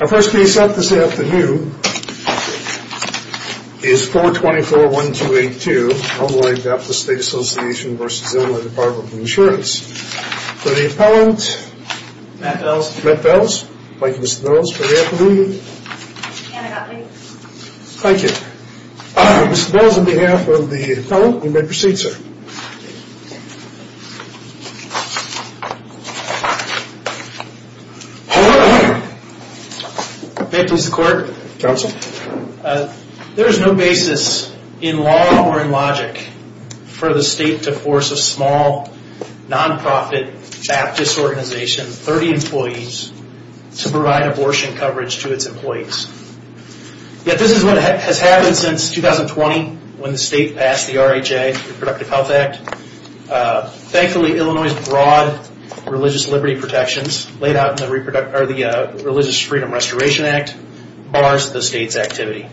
Our first case up this afternoon is 424-1282, Illinois Baptist State Association v. Illinois Department of Insurance. For the appellant, Matt Bells. Thank you Mr. Bells. For the appellant, Anna Gottlieb. Thank you. Mr. Bells, on behalf of the appellant, you may proceed sir. There is no basis in law or in logic for the state to force a small non-profit Baptist organization, 30 employees, to provide abortion coverage to its employees. Yet this is what has happened since 2020 when the state passed the RHA, Reproductive Health Act. Thankfully, Illinois' broad religious liberty protections laid out in the Religious Freedom Restoration Act bars the state's activity.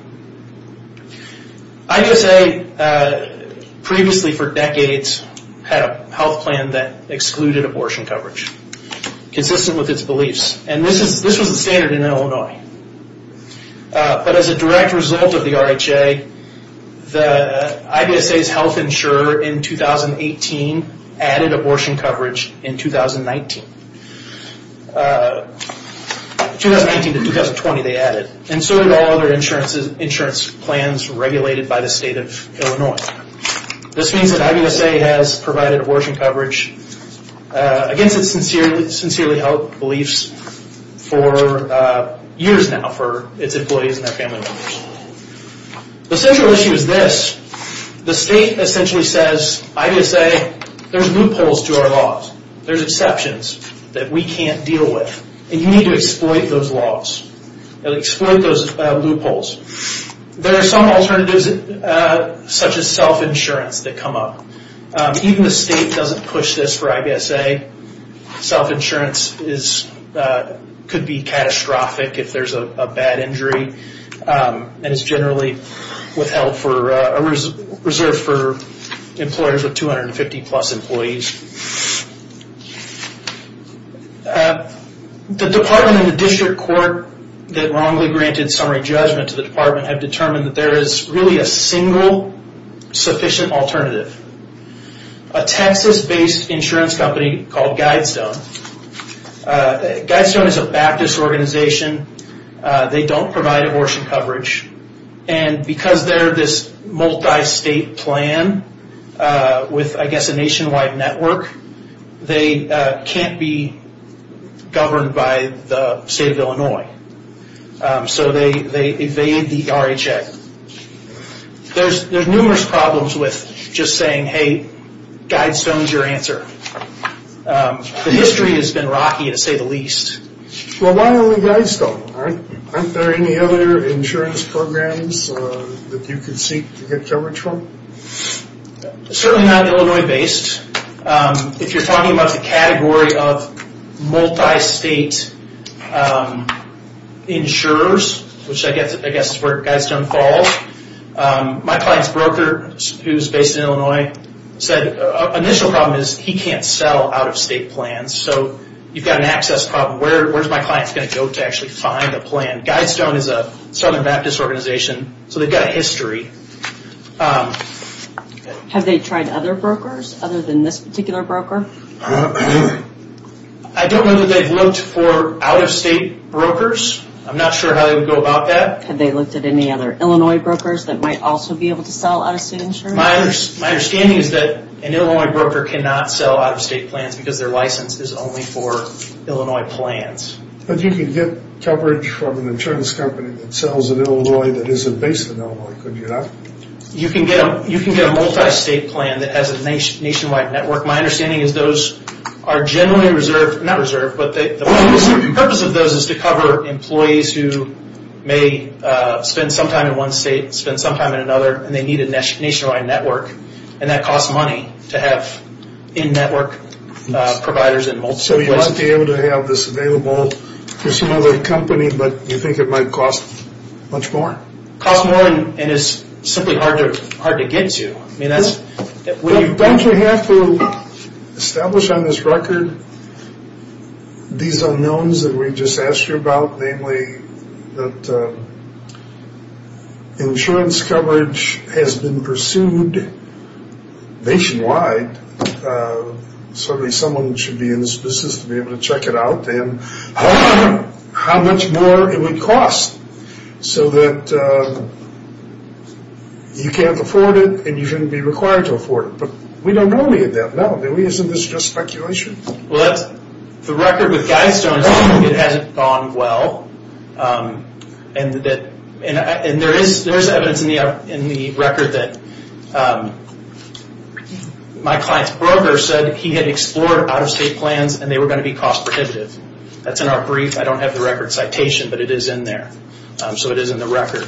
IDSA, previously for decades, had a health plan that excluded abortion coverage, consistent with its beliefs. This was the standard in Illinois. But as a direct result of the RHA, IDSA's health insurer in 2018 added abortion coverage in 2019. 2019 to 2020 they added, and so did all other insurance plans regulated by the state of Illinois. This means that IDSA has provided abortion coverage against its sincerely held beliefs for years now for its employees and their family members. The central issue is this. The state essentially says, IDSA, there's loopholes to our laws. There's exceptions that we can't deal with. And you need to exploit those laws. Exploit those loopholes. There are some alternatives such as self-insurance that come up. Even the state doesn't push this for IDSA. Self-insurance could be catastrophic if there's a bad injury. And it's generally withheld, reserved for employers with 250 plus employees. The department and the district court that wrongly granted summary judgment to the department have determined that there is really a single sufficient alternative. A Texas-based insurance company called Guidestone. Guidestone is a Baptist organization. They don't provide abortion coverage. And because they're this multi-state plan with, I guess, a nationwide network, they can't be governed by the state of Illinois. So they evade the RHA. There's numerous problems with just saying, hey, Guidestone's your answer. The history has been rocky, to say the least. Well, why only Guidestone? Aren't there any other insurance programs that you can seek to get coverage from? Certainly not Illinois-based. If you're talking about the category of multi-state insurers, which I guess is where Guidestone falls, my client's broker, who's based in Illinois, said the initial problem is he can't sell out-of-state plans. So you've got an access problem. Where's my client going to go to actually find a plan? Guidestone is a Southern Baptist organization, so they've got a history. Have they tried other brokers other than this particular broker? I don't know that they've looked for out-of-state brokers. I'm not sure how they would go about that. Have they looked at any other Illinois brokers that might also be able to sell out-of-state insurance? My understanding is that an Illinois broker cannot sell out-of-state plans because their license is only for Illinois plans. But you can get coverage from an insurance company that sells in Illinois that isn't based in Illinois, could you not? You can get a multi-state plan that has a nationwide network. My understanding is those are generally reserved, not reserved, but the purpose of those is to cover employees who may spend some time in one state, spend some time in another, and they need a nationwide network. And that costs money to have in-network providers in multiple places. So you might be able to have this available for some other company, but you think it might cost much more? It costs more and it's simply hard to get to. Don't you have to establish on this record these unknowns that we just asked you about? Namely, that insurance coverage has been pursued nationwide. Certainly someone should be in this business to be able to check it out. How much more it would cost so that you can't afford it and you shouldn't be required to afford it. But we don't know any of that now, do we? Isn't this just speculation? The record with Guy Stone says it hasn't gone well. And there is evidence in the record that my client's broker said he had explored out-of-state plans and they were going to be cost prohibitive. That's in our brief. I don't have the record citation, but it is in there. So it is in the record.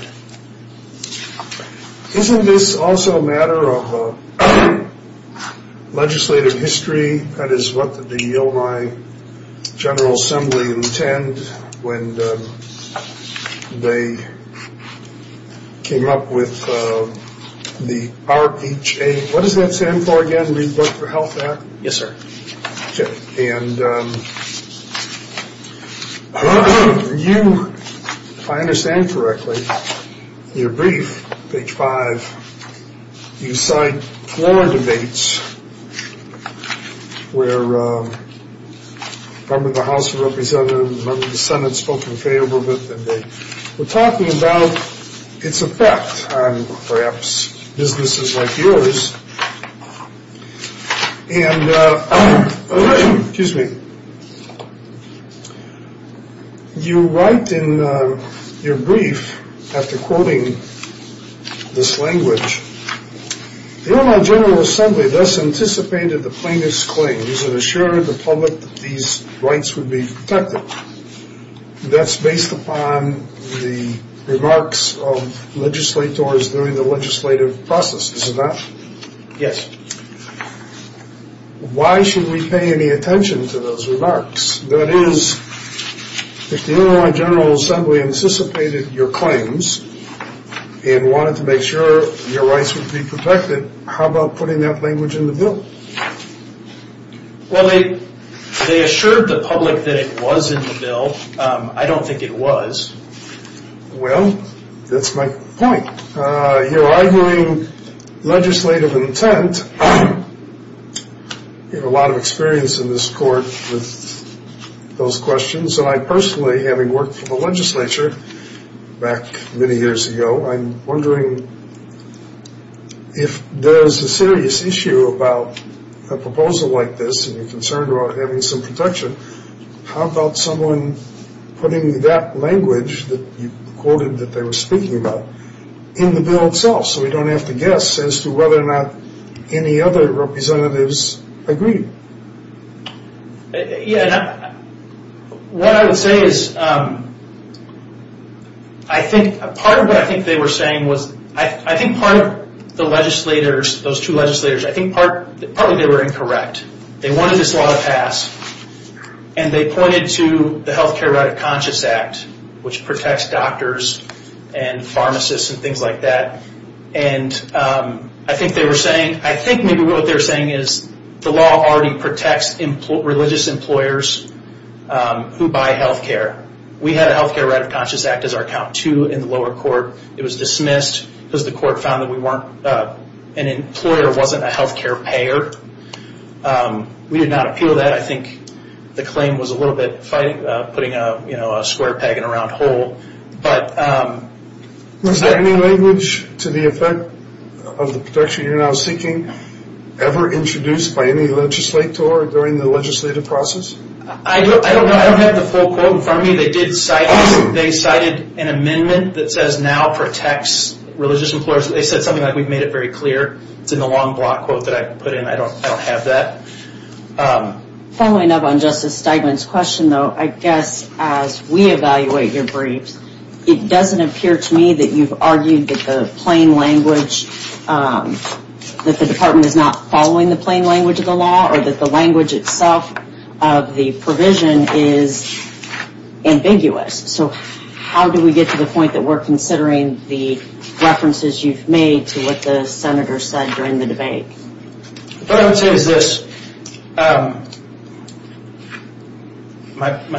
Isn't this also a matter of legislative history? That is what the Illinois General Assembly intend when they came up with the RHA. What does that stand for again? Read the Book for Health Act? Yes, sir. Okay. And you, if I understand correctly, in your brief, page five, you cite four debates where member of the House of Representatives, member of the Senate spoke in favor of it, and they were talking about its effect on perhaps businesses like yours. And, excuse me, you write in your brief, after quoting this language, the Illinois General Assembly thus anticipated the plaintiff's claim, is it assured the public that these rights would be protected? That's based upon the remarks of legislators during the legislative process, isn't that? Yes. Why should we pay any attention to those remarks? That is, if the Illinois General Assembly anticipated your claims and wanted to make sure your rights would be protected, how about putting that language in the bill? Well, they assured the public that it was in the bill. I don't think it was. Well, that's my point. Your arguing legislative intent, you have a lot of experience in this court with those questions, and I personally, having worked for the legislature back many years ago, I'm wondering if there's a serious issue about a proposal like this, and you're concerned about having some protection, how about someone putting that language that you quoted that they were speaking about in the bill itself, so we don't have to guess as to whether or not any other representatives agreed? What I would say is, part of what I think they were saying was, I think part of the legislators, those two legislators, I think partly they were incorrect. They wanted this law to pass, and they pointed to the Health Care Right of Conscious Act, which protects doctors and pharmacists and things like that, and I think they were saying, I think maybe what they were saying is, the law already protects religious employers who buy health care. We had a Health Care Right of Conscious Act as our count two in the lower court. It was dismissed because the court found that an employer wasn't a health care payer. We did not appeal that. I think the claim was a little bit putting a square peg in a round hole. Is there any language to the effect of the protection you're now seeking ever introduced by any legislator during the legislative process? I don't know. I don't have the full quote in front of me. They cited an amendment that says, now protects religious employers. They said something like, we've made it very clear. It's in the long block quote that I put in. I don't have that. Following up on Justice Steigman's question, though, I guess as we evaluate your briefs, it doesn't appear to me that you've argued that the plain language, that the department is not following the plain language of the law, or that the language itself of the provision is ambiguous. So how do we get to the point that we're considering the references you've made to what the senator said during the debate? What I would say is this. My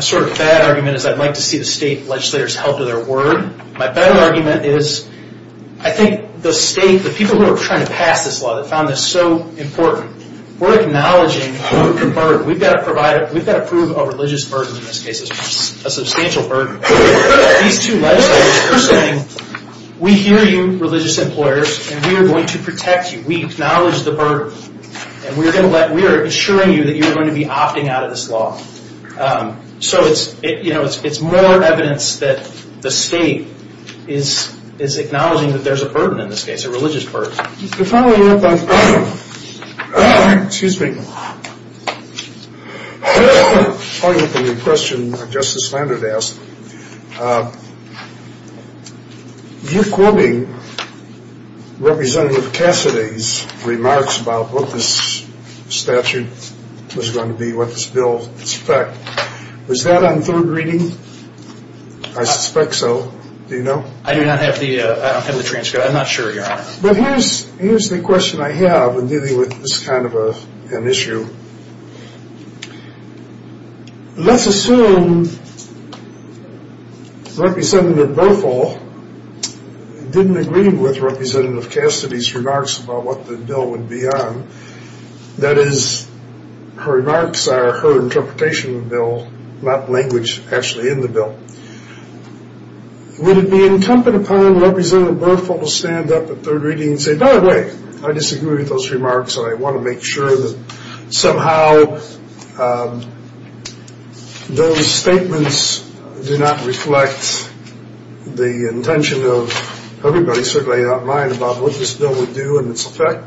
sort of bad argument is I'd like to see the state legislators help with their word. My better argument is, I think the state, the people who are trying to pass this law that found this so important, we're acknowledging the burden. We've got to prove a religious burden in this case, a substantial burden. These two legislators are saying, we hear you, religious employers, and we are going to protect you. We acknowledge the burden, and we are assuring you that you are going to be opting out of this law. So it's more evidence that the state is acknowledging that there's a burden in this case, a religious burden. The following up on, excuse me, following up on the question Justice Landreth asked, you quoting Representative Cassidy's remarks about what this statute was going to be, what this bill would expect, was that on third reading? I suspect so. Do you know? I do not have the transcript. I'm not sure, Your Honor. But here's the question I have in dealing with this kind of an issue. Let's assume Representative Burful didn't agree with Representative Cassidy's remarks about what the bill would be on. That is, her remarks are her interpretation of the bill, not language actually in the bill. Would it be incumbent upon Representative Burful to stand up at third reading and say, by the way, I disagree with those remarks, and I want to make sure that somehow those statements do not reflect the intention of everybody, certainly not mine, about what this bill would do and its effect?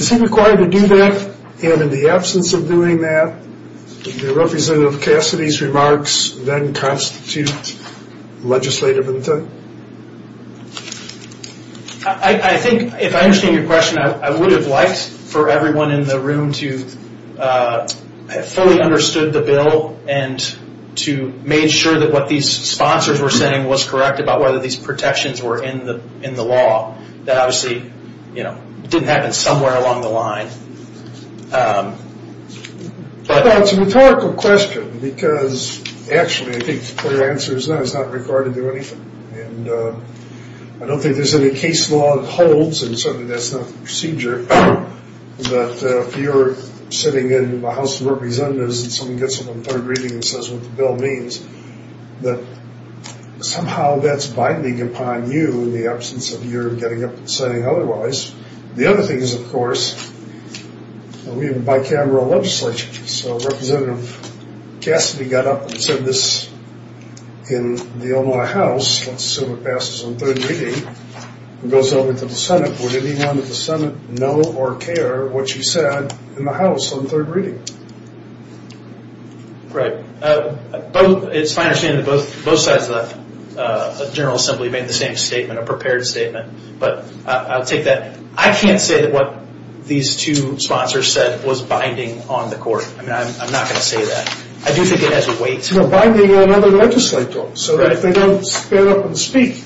Is he required to do that? And in the absence of doing that, would Representative Cassidy's remarks then constitute legislative intent? I think if I understand your question, I would have liked for everyone in the room to have fully understood the bill and to have made sure that what these sponsors were saying was correct about whether these protections were in the law. That obviously didn't happen somewhere along the line. Well, it's a rhetorical question because, actually, I think the clear answer is no, it's not required to do anything. And I don't think there's any case law that holds, and certainly that's not the procedure, but if you're sitting in the House of Representatives and someone gets up on third reading and says what the bill means, that somehow that's binding upon you in the absence of your getting up and saying otherwise. The other thing is, of course, we have a bicameral legislature. So Representative Cassidy got up and said this in the Illinois House, let's assume it passes on third reading, and goes over to the Senate. Would anyone at the Senate know or care what she said in the House on third reading? Right. It's my understanding that both sides of the General Assembly made the same statement, a prepared statement, but I'll take that. I can't say that what these two sponsors said was binding on the court. I'm not going to say that. I do think it has a weight. No, binding on other legislators, so that if they don't stand up and speak,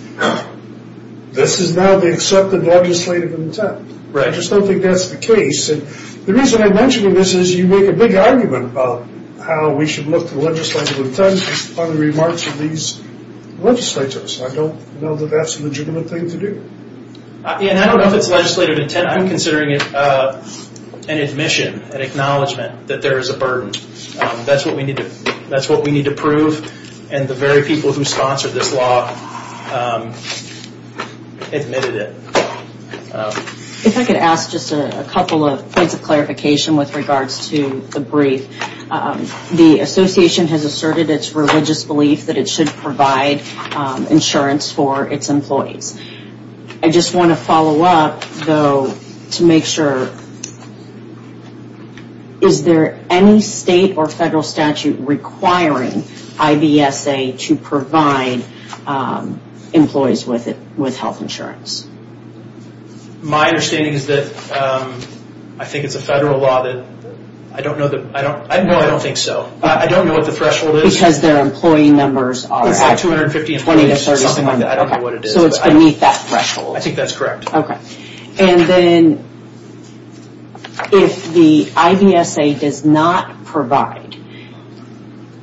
this is now the accepted legislative intent. I just don't think that's the case. The reason I mention this is you make a big argument about how we should look to legislative intent on the remarks of these legislators. I don't know that that's a legitimate thing to do. I don't know if it's legislative intent. I'm considering it an admission, an acknowledgment that there is a burden. That's what we need to prove, and the very people who sponsored this law admitted it. If I could ask just a couple of points of clarification with regards to the brief. The association has asserted its religious belief that it should provide insurance for its employees. I just want to follow up, though, to make sure. Is there any state or federal statute requiring IBSA to provide employees with health insurance? My understanding is that I think it's a federal law. I don't know. No, I don't think so. I don't know what the threshold is. Because their employee numbers are at 250 employees. I don't know what it is. So it's beneath that threshold. I think that's correct. Okay. And then if the IBSA does not provide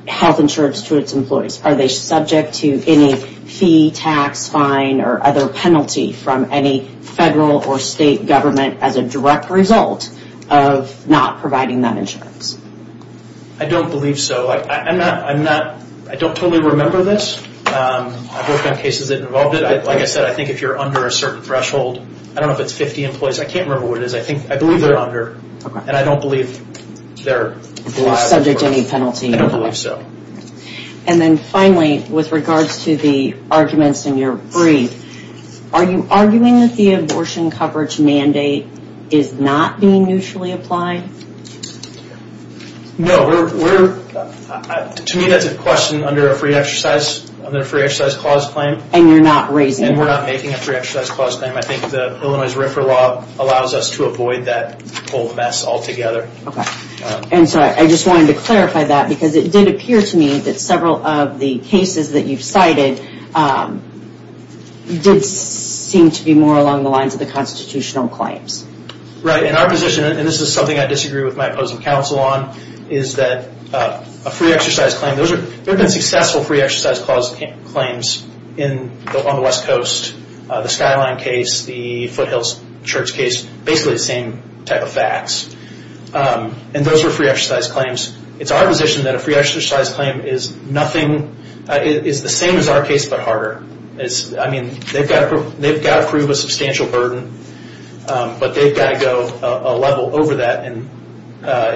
health insurance to its employees, are they subject to any fee, tax, fine, or other penalty from any federal or state government as a direct result of not providing that insurance? I don't believe so. I don't totally remember this. I've worked on cases that involve it. Like I said, I think if you're under a certain threshold. I don't know if it's 50 employees. I can't remember what it is. I believe they're under. And I don't believe they're subject to any penalty. I don't believe so. And then finally, with regards to the arguments in your brief, are you arguing that the abortion coverage mandate is not being mutually applied? No. To me, that's a question under a free exercise clause claim. And you're not raising it? And we're not making a free exercise clause claim. I think Illinois' RFRA law allows us to avoid that whole mess altogether. Okay. And so I just wanted to clarify that because it did appear to me that several of the cases that you've cited did seem to be more along the lines of the constitutional claims. Right. And our position, and this is something I disagree with my opposing counsel on, is that a free exercise claim, there have been successful free exercise clause claims on the West Coast. The Skyline case, the Foothills Church case, basically the same type of facts. And those are free exercise claims. It's our position that a free exercise claim is the same as our case but harder. I mean, they've got to prove a substantial burden, but they've got to go a level over that. And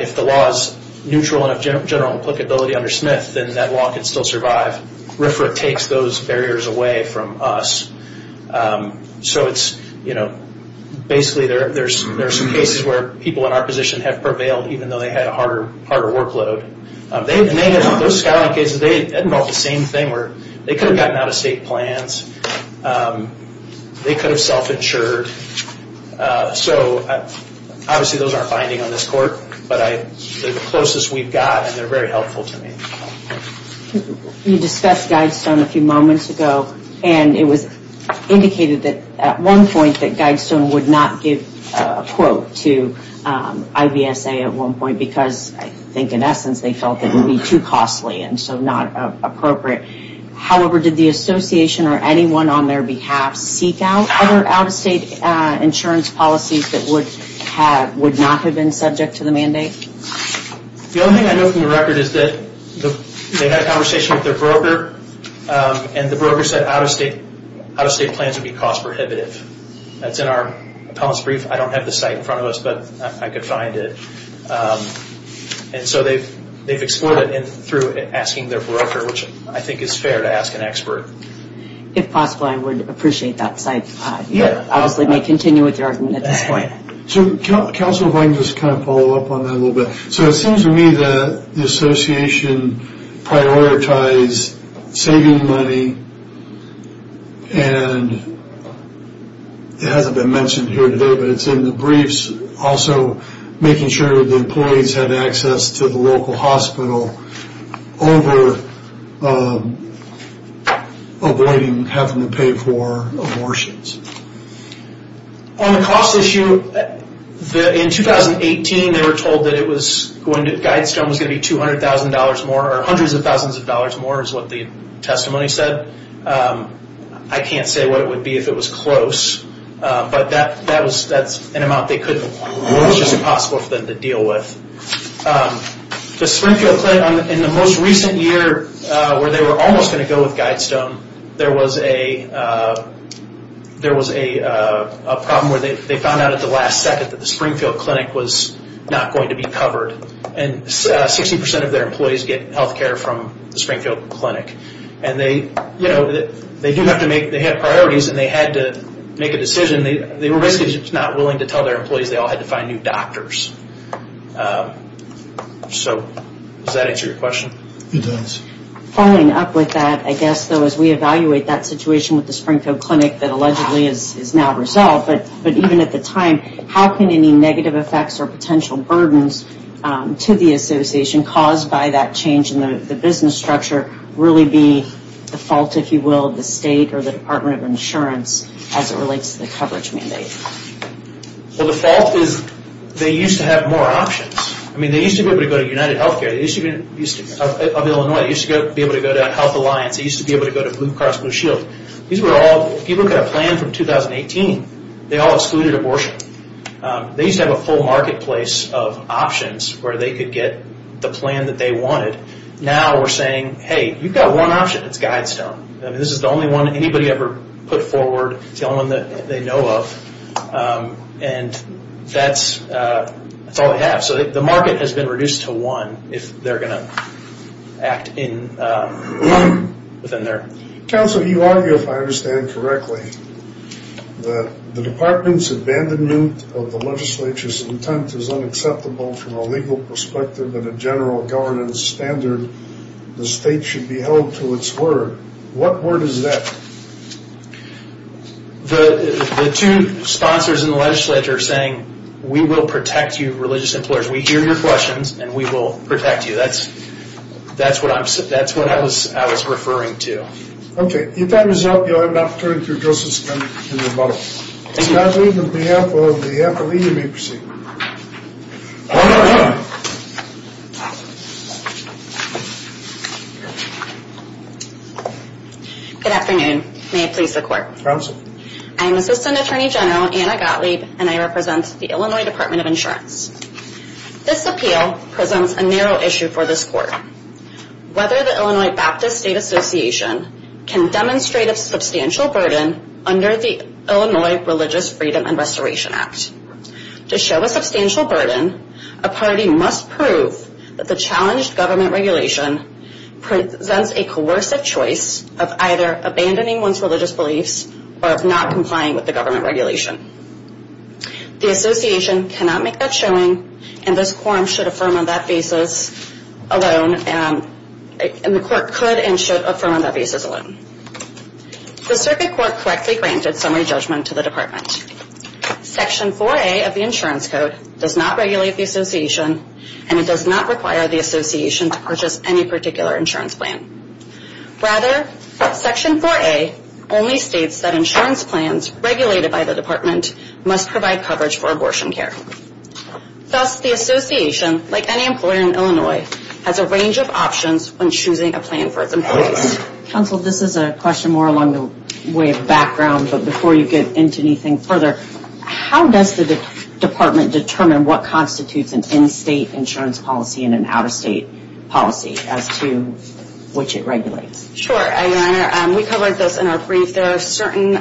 if the law is neutral and of general applicability under Smith, then that law can still survive. RFRA takes those barriers away from us. So it's, you know, basically there are some cases where people in our position have prevailed even though they had a harder workload. Those Skyline cases, they involved the same thing where they could have gotten out-of-state plans. They could have self-insured. So obviously those aren't binding on this court, but they're the closest we've got and they're very helpful to me. You discussed Guidestone a few moments ago, and it was indicated that at one point that Guidestone would not give a quote to IVSA at one point because I think in essence they felt it would be too costly and so not appropriate. However, did the association or anyone on their behalf seek out other out-of-state insurance policies that would not have been subject to the mandate? The only thing I know from the record is that they had a conversation with their broker and the broker said out-of-state plans would be cost prohibitive. That's in our appellant's brief. I don't have the site in front of us, but I could find it. And so they've explored it through asking their broker, which I think is fair to ask an expert. If possible, I would appreciate that site. You obviously may continue with your argument at this point. Counsel, if I can just kind of follow up on that a little bit. So it seems to me that the association prioritized saving money and it hasn't been mentioned here today, but it's in the briefs also making sure the employees have access to the local hospital over avoiding having to pay for abortions. On the cost issue, in 2018 they were told that Guidestone was going to be $200,000 more or hundreds of thousands of dollars more is what the testimony said. I can't say what it would be if it was close. But that's an amount that was just impossible for them to deal with. The Springfield Clinic, in the most recent year where they were almost going to go with Guidestone, there was a problem where they found out at the last second that the Springfield Clinic was not going to be covered. And 60% of their employees get health care from the Springfield Clinic. And they had priorities and they had to make a decision. They were basically just not willing to tell their employees they all had to find new doctors. So does that answer your question? It does. Following up with that, I guess though as we evaluate that situation with the Springfield Clinic that allegedly is now resolved, but even at the time, how can any negative effects or potential burdens to the association caused by that change in the business structure really be the fault, if you will, of the state or the Department of Insurance as it relates to the coverage mandate? Well, the fault is they used to have more options. I mean, they used to be able to go to UnitedHealthcare of Illinois. They used to be able to go to Health Alliance. They used to be able to go to Blue Cross Blue Shield. These were all, if you look at a plan from 2018, they all excluded abortion. They used to have a full marketplace of options where they could get the plan that they wanted. Now we're saying, hey, you've got one option. It's Guidestone. I mean, this is the only one anybody ever put forward. It's the only one that they know of. And that's all they have. So the market has been reduced to one if they're going to act within there. Counsel, you argue, if I understand correctly, that the department's abandonment of the legislature's intent is unacceptable from a legal perspective and a general governance standard, the state should be held to its word. What word is that? The two sponsors in the legislature are saying, we will protect you, religious employers. We hear your questions, and we will protect you. That's what I was referring to. Okay. If that was up, you'll have an opportunity to address this in your model. Ms. Gottlieb, on behalf of the FLE, you may proceed. Good afternoon. May it please the Court. Counsel. I'm Assistant Attorney General Anna Gottlieb, and I represent the Illinois Department of Insurance. This appeal presents a narrow issue for this Court. Whether the Illinois Baptist State Association can demonstrate a substantial burden under the Illinois Religious Freedom and Restoration Act. To show a substantial burden, a party must prove that the challenged government regulation presents a coercive choice of either abandoning one's religious beliefs or of not complying with the government regulation. The association cannot make that showing, and this quorum should affirm on that basis alone, and the Court could and should affirm on that basis alone. The circuit court correctly granted summary judgment to the department. Section 4A of the insurance code does not regulate the association, and it does not require the association to purchase any particular insurance plan. Rather, Section 4A only states that insurance plans regulated by the department must provide coverage for abortion care. Thus, the association, like any employer in Illinois, has a range of options when choosing a plan for its employees. Counsel, this is a question more along the way of background, but before you get into anything further, how does the department determine what constitutes an in-state insurance policy and an out-of-state policy as to which it regulates? Sure, Your Honor. We covered this in our brief. There are certain,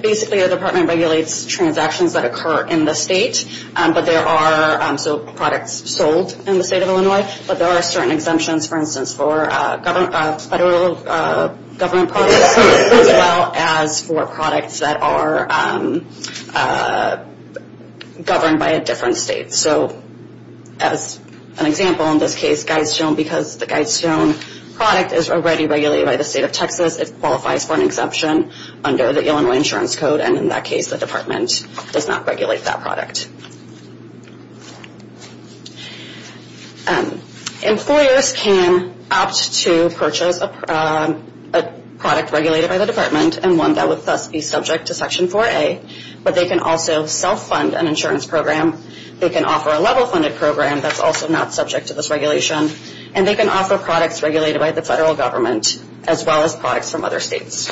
basically the department regulates transactions that occur in the state, but there are, so products sold in the state of Illinois, but there are certain exemptions, for instance, for federal government products, as well as for products that are governed by a different state. So as an example, in this case, Guidestone, because the Guidestone product is already regulated by the state of Texas, it qualifies for an exemption under the Illinois insurance code, and in that case the department does not regulate that product. Employers can opt to purchase a product regulated by the department and one that would thus be subject to Section 4A, but they can also self-fund an insurance program. They can offer a level-funded program that's also not subject to this regulation, and they can offer products regulated by the federal government, as well as products from other states.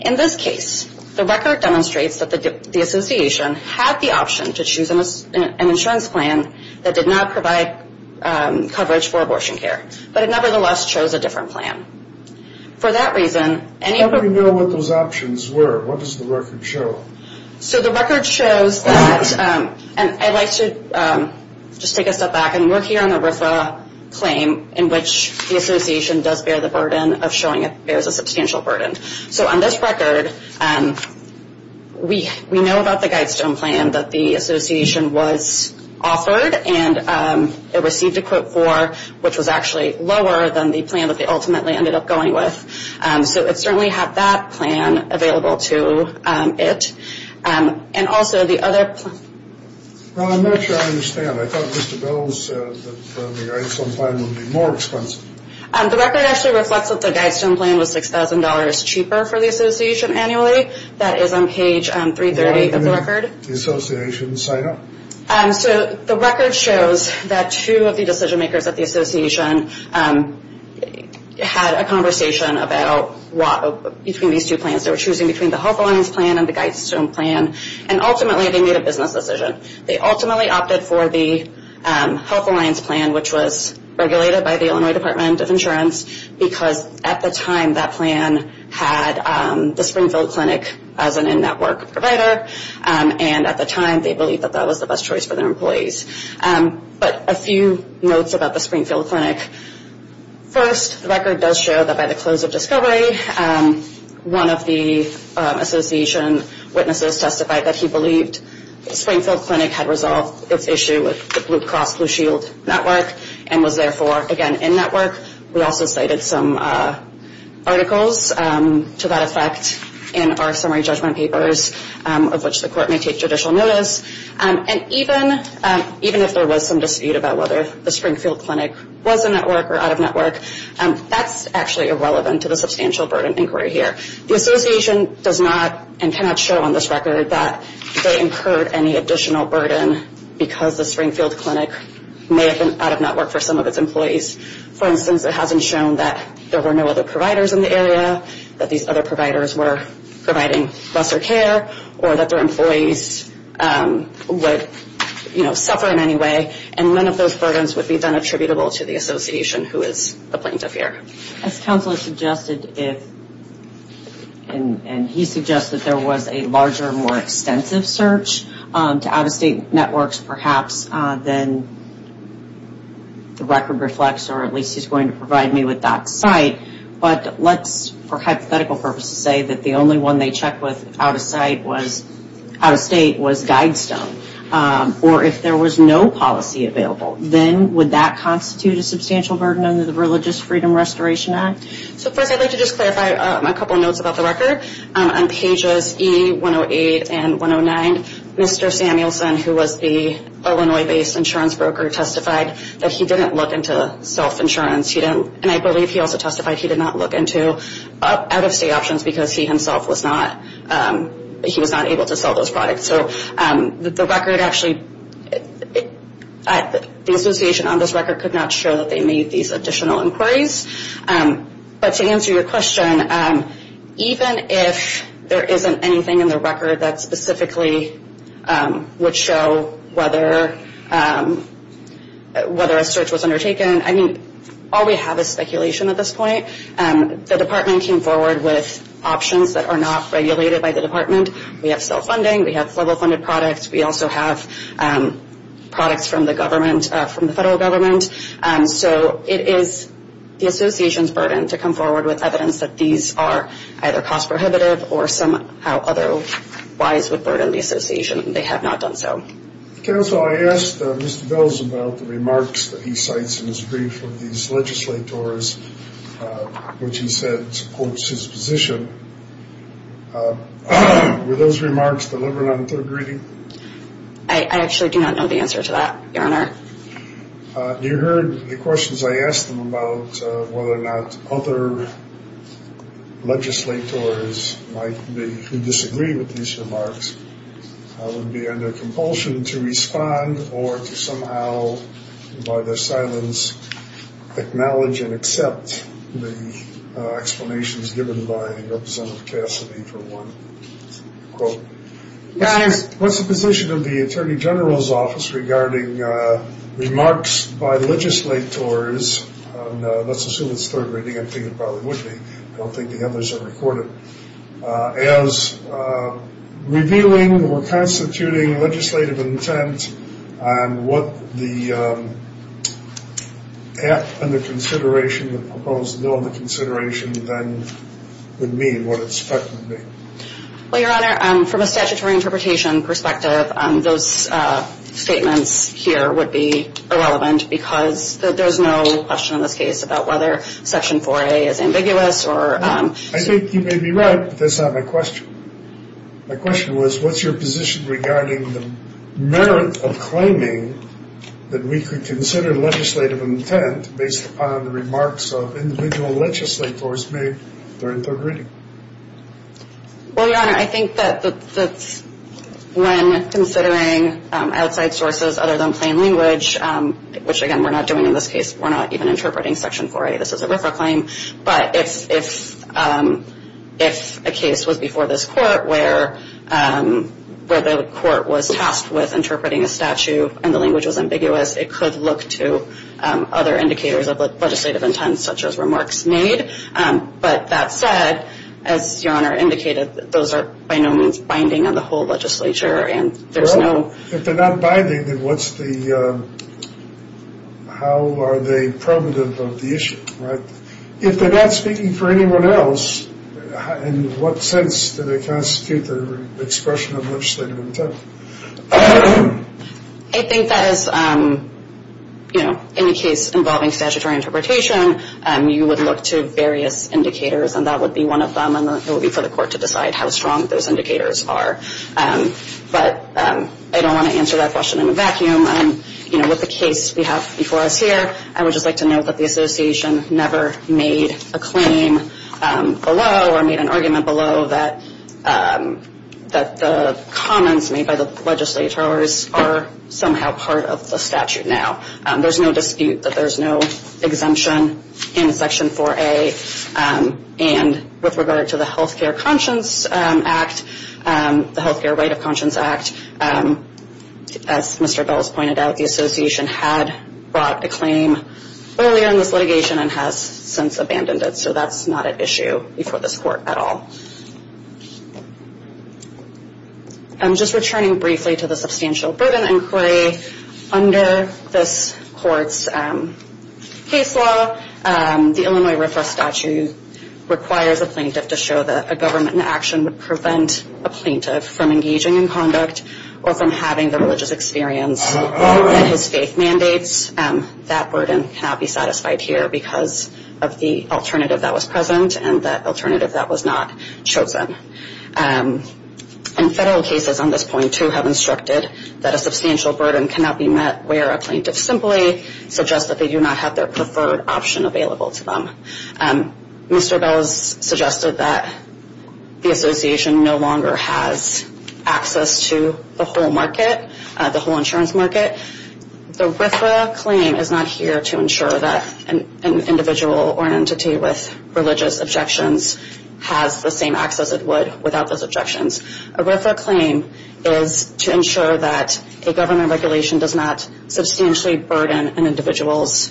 In this case, the record demonstrates that the association had the option to choose an insurance plan that did not provide coverage for abortion care, but it nevertheless chose a different plan. For that reason, any... How do we know what those options were? What does the record show? So the record shows that, and I'd like to just take a step back and work here on the RFRA claim in which the association does bear the burden of showing it bears a substantial burden. So on this record, we know about the Guidestone plan that the association was offered and it received a quote for, which was actually lower than the plan that they ultimately ended up going with. So it certainly had that plan available to it. And also the other plan... Well, I'm not sure I understand. I thought Mr. Bell said that the Guidestone plan would be more expensive. The record actually reflects that the Guidestone plan was $6,000 cheaper for the association annually. That is on page 330 of the record. Why didn't the association sign up? So the record shows that two of the decision makers at the association had a conversation about between these two plans. They were choosing between the Health Alliance plan and the Guidestone plan, and ultimately they made a business decision. They ultimately opted for the Health Alliance plan, which was regulated by the Illinois Department of Insurance, because at the time that plan had the Springfield Clinic as an in-network provider, and at the time they believed that that was the best choice for their employees. But a few notes about the Springfield Clinic. First, the record does show that by the close of discovery, one of the association witnesses testified that he believed Springfield Clinic had resolved its issue with the Blue Cross Blue Shield network, and was therefore again in-network. We also cited some articles to that effect in our summary judgment papers, of which the court may take judicial notice. And even if there was some dispute about whether the Springfield Clinic was in-network or out-of-network, that's actually irrelevant to the substantial burden inquiry here. The association does not and cannot show on this record that they incurred any additional burden because the Springfield Clinic may have been out-of-network for some of its employees. For instance, it hasn't shown that there were no other providers in the area, that these other providers were providing lesser care, or that their employees would suffer in any way, and none of those burdens would be attributable to the association, who is the plaintiff here. As counsel has suggested, and he suggests that there was a larger, more extensive search to out-of-state networks perhaps, then the record reflects, or at least he's going to provide me with that site. But let's, for hypothetical purposes, say that the only one they checked with out-of-state was Guidestone. Or if there was no policy available, then would that constitute a substantial burden under the Religious Freedom Restoration Act? So first I'd like to just clarify a couple notes about the record. On pages E-108 and 109, Mr. Samuelson, who was the Illinois-based insurance broker, testified that he didn't look into self-insurance. And I believe he also testified he did not look into out-of-state options because he himself was not able to sell those products. The association on this record could not show that they made these additional inquiries. But to answer your question, even if there isn't anything in the record that specifically would show whether a search was undertaken, I mean, all we have is speculation at this point. The department came forward with options that are not regulated by the department. We have self-funding. We have federal-funded products. We also have products from the government, from the federal government. So it is the association's burden to come forward with evidence that these are either cost-prohibitive or somehow otherwise would burden the association. They have not done so. Counsel, I asked Mr. Bells about the remarks that he cites in his brief of these legislators, which he said supports his position. Were those remarks delivered on third reading? I actually do not know the answer to that, Your Honor. You heard the questions I asked him about whether or not other legislators might be who disagree with these remarks would be under compulsion to respond or to somehow, by their silence, acknowledge and accept the explanations given by Representative Cassidy for one quote. What's the position of the Attorney General's Office regarding remarks by legislators? Let's assume it's third reading. I think it probably would be. I don't think the others are recorded. As revealing or constituting legislative intent on what the act under consideration, the proposed bill under consideration then would mean, what its effect would be. Well, Your Honor, from a statutory interpretation perspective, those statements here would be irrelevant because there's no question in this case about whether Section 4A is ambiguous. I think you may be right, but that's not my question. My question was, what's your position regarding the merit of claiming that we could consider legislative intent based upon the remarks of individual legislators made during third reading? Well, Your Honor, I think that's when considering outside sources other than plain language, which, again, we're not doing in this case. We're not even interpreting Section 4A. This is a RFRA claim. But if a case was before this court where the court was tasked with interpreting a statute and the language was ambiguous, it could look to other indicators of legislative intent, such as remarks made. But that said, as Your Honor indicated, those are by no means binding on the whole legislature. Well, if they're not binding, then how are they primitive of the issue, right? If they're not speaking for anyone else, in what sense do they constitute the expression of legislative intent? I think that in a case involving statutory interpretation, you would look to various indicators, and that would be one of them, and it would be for the court to decide how strong those indicators are. But I don't want to answer that question in a vacuum. With the case we have before us here, I would just like to note that the Association never made a claim below or made an argument below that the comments made by the legislators are somehow part of the statute now. There's no dispute that there's no exemption in Section 4A. And with regard to the Health Care Right of Conscience Act, as Mr. Bell has pointed out, the Association had brought a claim earlier in this litigation and has since abandoned it. So that's not at issue before this court at all. Just returning briefly to the substantial burden inquiry, under this court's case law, the Illinois RFRA statute requires a plaintiff to show that a government in action would prevent a plaintiff from engaging in conduct or from having the religious experience that his faith mandates. That burden cannot be satisfied here because of the alternative that was present and that alternative that was not chosen. And federal cases on this point, too, have instructed that a substantial burden cannot be met where a plaintiff simply suggests that they do not have their preferred option available to them. Mr. Bell has suggested that the Association no longer has access to the whole market, the whole insurance market. The RFRA claim is not here to ensure that an individual or an entity with religious objections has the same access it would without those objections. A RFRA claim is to ensure that a government regulation does not substantially burden an individual's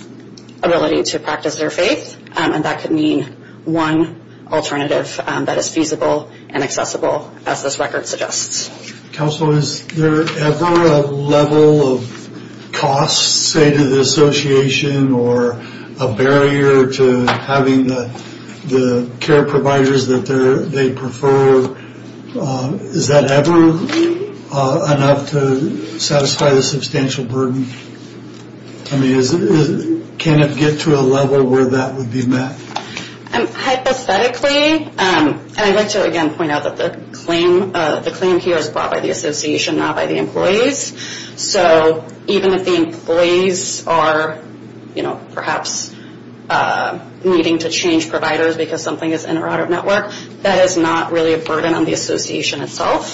ability to practice their faith, and that could mean one alternative that is feasible and accessible, as this record suggests. Counsel, is there ever a level of cost, say, to the Association or a barrier to having the care providers that they prefer? Is that ever enough to satisfy the substantial burden? I mean, can it get to a level where that would be met? Hypothetically, and I'd like to, again, point out that the claim here is brought by the Association, not by the employees. So even if the employees are, you know, perhaps needing to change providers because something is in or out of network, that is not really a burden on the Association itself.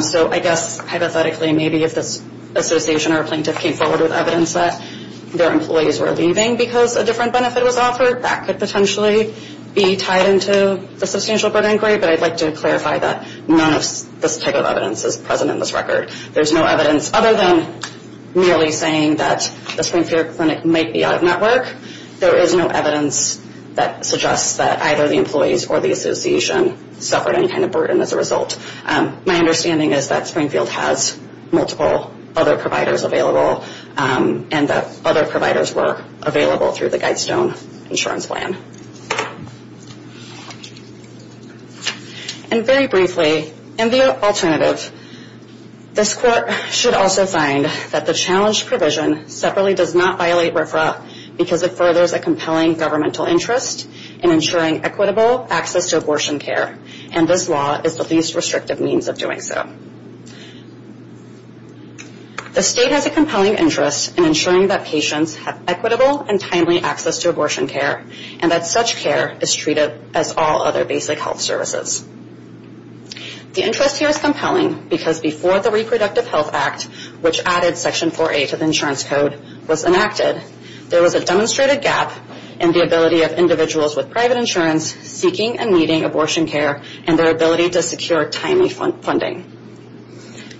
So I guess, hypothetically, maybe if this Association or a plaintiff came forward with evidence that their employees were leaving because a different benefit was offered, that could potentially be tied into the substantial burden inquiry, but I'd like to clarify that none of this type of evidence is present in this record. There's no evidence other than merely saying that the Springfield Clinic might be out of network. There is no evidence that suggests that either the employees or the Association suffered any kind of burden as a result. My understanding is that Springfield has multiple other providers available and that other providers were available through the Guidestone insurance plan. And very briefly, in the alternative, this court should also find that the challenge provision separately does not violate RFRA because it furthers a compelling governmental interest in ensuring equitable access to abortion care, and this law is the least restrictive means of doing so. The state has a compelling interest in ensuring that patients have equitable and timely access to abortion care and that such care is treated as all other basic health services. The interest here is compelling because before the Reproductive Health Act, which added Section 4A to the insurance code, was enacted, there was a demonstrated gap in the ability of individuals with private insurance seeking and needing abortion care and their ability to secure timely funding.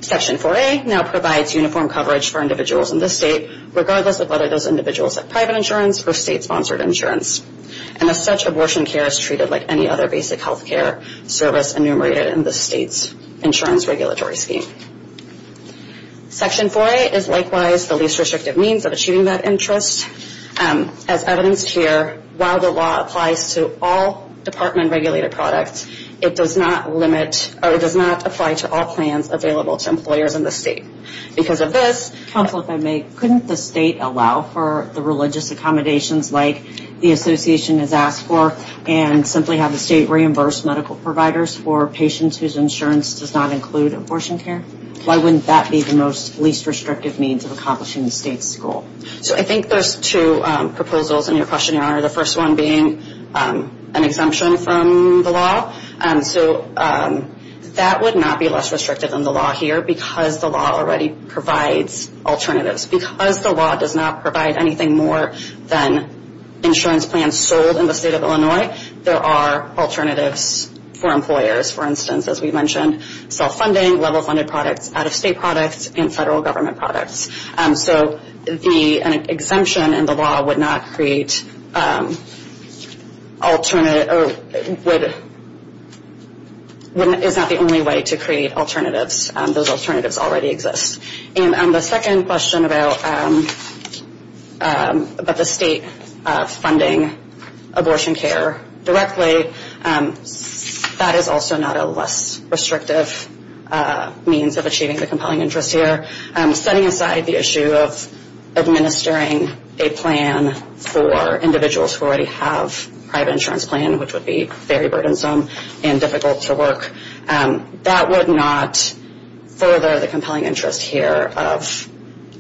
Section 4A now provides uniform coverage for individuals in this state, regardless of whether those individuals have private insurance or state-sponsored insurance, and as such, abortion care is treated like any other basic health care service enumerated in the state's insurance regulatory scheme. Section 4A is likewise the least restrictive means of achieving that interest. As evidenced here, while the law applies to all department-regulated products, it does not limit, or it does not apply to all plans available to employers in the state. Because of this... Counsel, if I may, couldn't the state allow for the religious accommodations like the Association has asked for and simply have the state reimburse medical providers for patients whose insurance does not include abortion care? Why wouldn't that be the most least restrictive means of accomplishing the state's goal? So I think those two proposals in your questionnaire, the first one being an exemption from the law, so that would not be less restrictive than the law here because the law already provides alternatives. Because the law does not provide anything more than insurance plans sold in the state of Illinois, there are alternatives for employers, for instance, as we mentioned, self-funding, level-funded products, out-of-state products, and federal government products. So the exemption in the law would not create alternative... would... is not the only way to create alternatives. Those alternatives already exist. And the second question about the state funding abortion care directly, that is also not a less restrictive means of achieving the compelling interest here. Setting aside the issue of administering a plan for individuals who already have a private insurance plan, which would be very burdensome and difficult to work, that would not further the compelling interest here of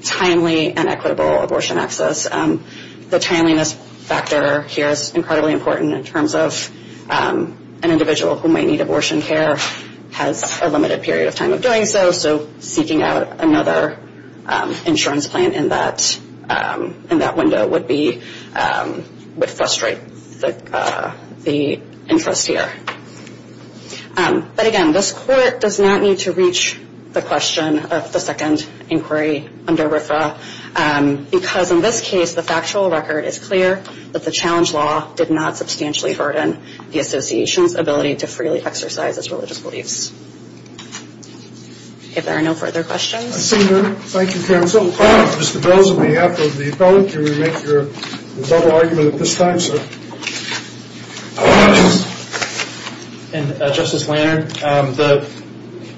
timely and equitable abortion access. The timeliness factor here is incredibly important in terms of an individual who may need abortion care has a limited period of time of doing so, so seeking out another insurance plan in that window would be... would frustrate the interest here. But again, this Court does not need to reach the question of the second inquiry under RFRA, because in this case the factual record is clear that the challenge law did not substantially harden the Association's ability to freely exercise its religious beliefs. If there are no further questions... I see none. Thank you, counsel. Mr. Belz, on behalf of the appellant, can you make your double argument at this time, sir? And Justice Lanard, the...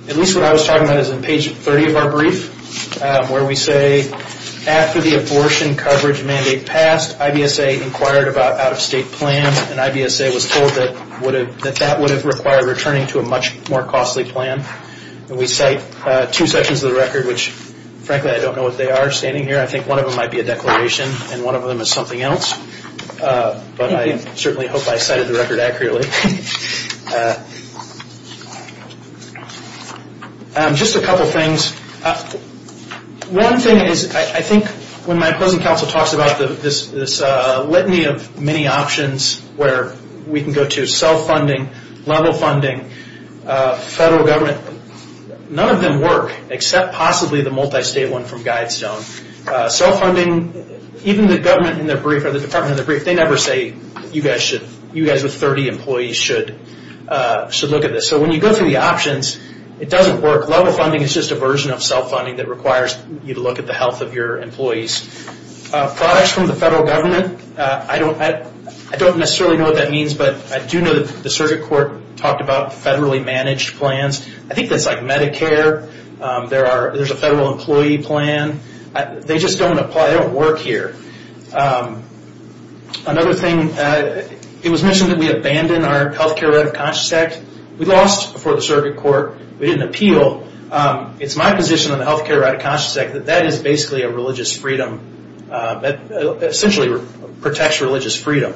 at least what I was talking about is in page 30 of our brief, where we say after the abortion coverage mandate passed, IBSA inquired about out-of-state plans and IBSA was told that would have... that that would have required returning to a much more costly plan. And we cite two sections of the record which, frankly, I don't know what they are standing here. I think one of them might be a declaration and one of them is something else. But I certainly hope I cited the record accurately. Just a couple things. One thing is I think when my opposing counsel talks about this litany of many options where we can go to self-funding, level funding, federal government, none of them work except possibly the multi-state one from Guidestone. Self-funding, even the government in their brief or the department in their brief, they never say you guys should... you guys with 30 employees should look at this. So when you go through the options, it doesn't work. Level funding is just a version of self-funding that requires you to look at the health of your employees. Products from the federal government, I don't necessarily know what that means, but I do know that the circuit court talked about federally managed plans. I think that's like Medicare. There's a federal employee plan. They just don't apply. They don't work here. Another thing, it was mentioned that we abandoned our health care right of conscience act. We lost before the circuit court. We didn't appeal. It's my position on the health care right of conscience act that that is basically a religious freedom, essentially protects religious freedom.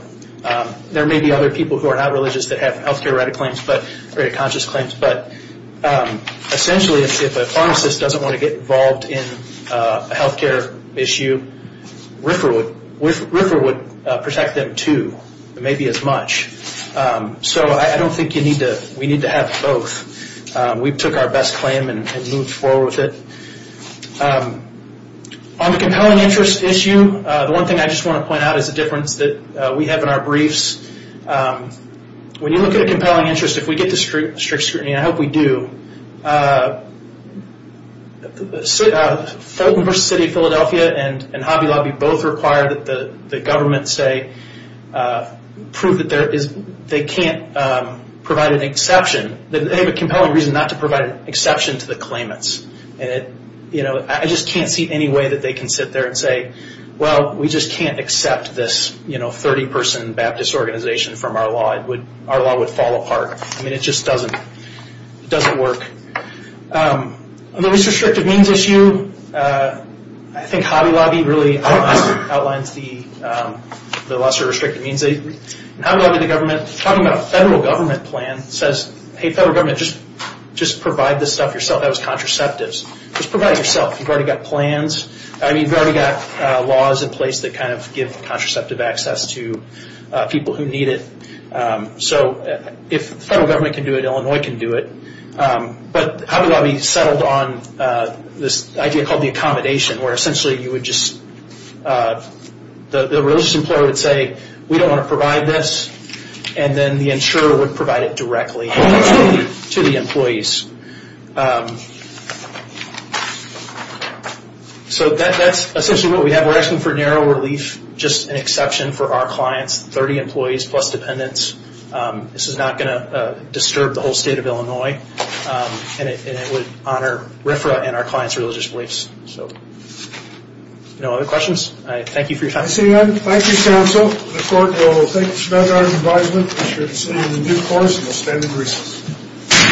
There may be other people who are not religious that have health care right of conscience claims, but essentially if a pharmacist doesn't want to get involved in a health care issue, RFRA would protect them too, maybe as much. So I don't think we need to have both. We took our best claim and moved forward with it. On the compelling interest issue, the one thing I just want to point out is the difference that we have in our briefs. When you look at a compelling interest, if we get the strict scrutiny, and I hope we do, Fulton versus City of Philadelphia and Hobby Lobby both require that the government say, prove that they can't provide an exception. They have a compelling reason not to provide an exception to the claimants. I just can't see any way that they can sit there and say, well, we just can't accept this 30-person Baptist organization from our law. Our law would fall apart. It just doesn't work. On the least restrictive means issue, I think Hobby Lobby really outlines the lesser restrictive means. In Hobby Lobby, the government, talking about a federal government plan, says, hey, federal government, just provide this stuff yourself. That was contraceptives. Just provide it yourself. You've already got plans. You've already got laws in place that give contraceptive access to people who need it. If the federal government can do it, Illinois can do it. But Hobby Lobby settled on this idea called the accommodation, where essentially you would just, the religious employer would say, we don't want to provide this, and then the insurer would provide it directly to the employees. That's essentially what we have. We're asking for narrow relief, just an exception for our clients, 30 employees plus dependents. This is not going to disturb the whole state of Illinois, and it would honor RFRA and our clients' religious beliefs. No other questions? Thank you for your time. Thank you, counsel. The court will thank you for that kind advisement. Be sure to see you in the new course, and we'll stand in recess.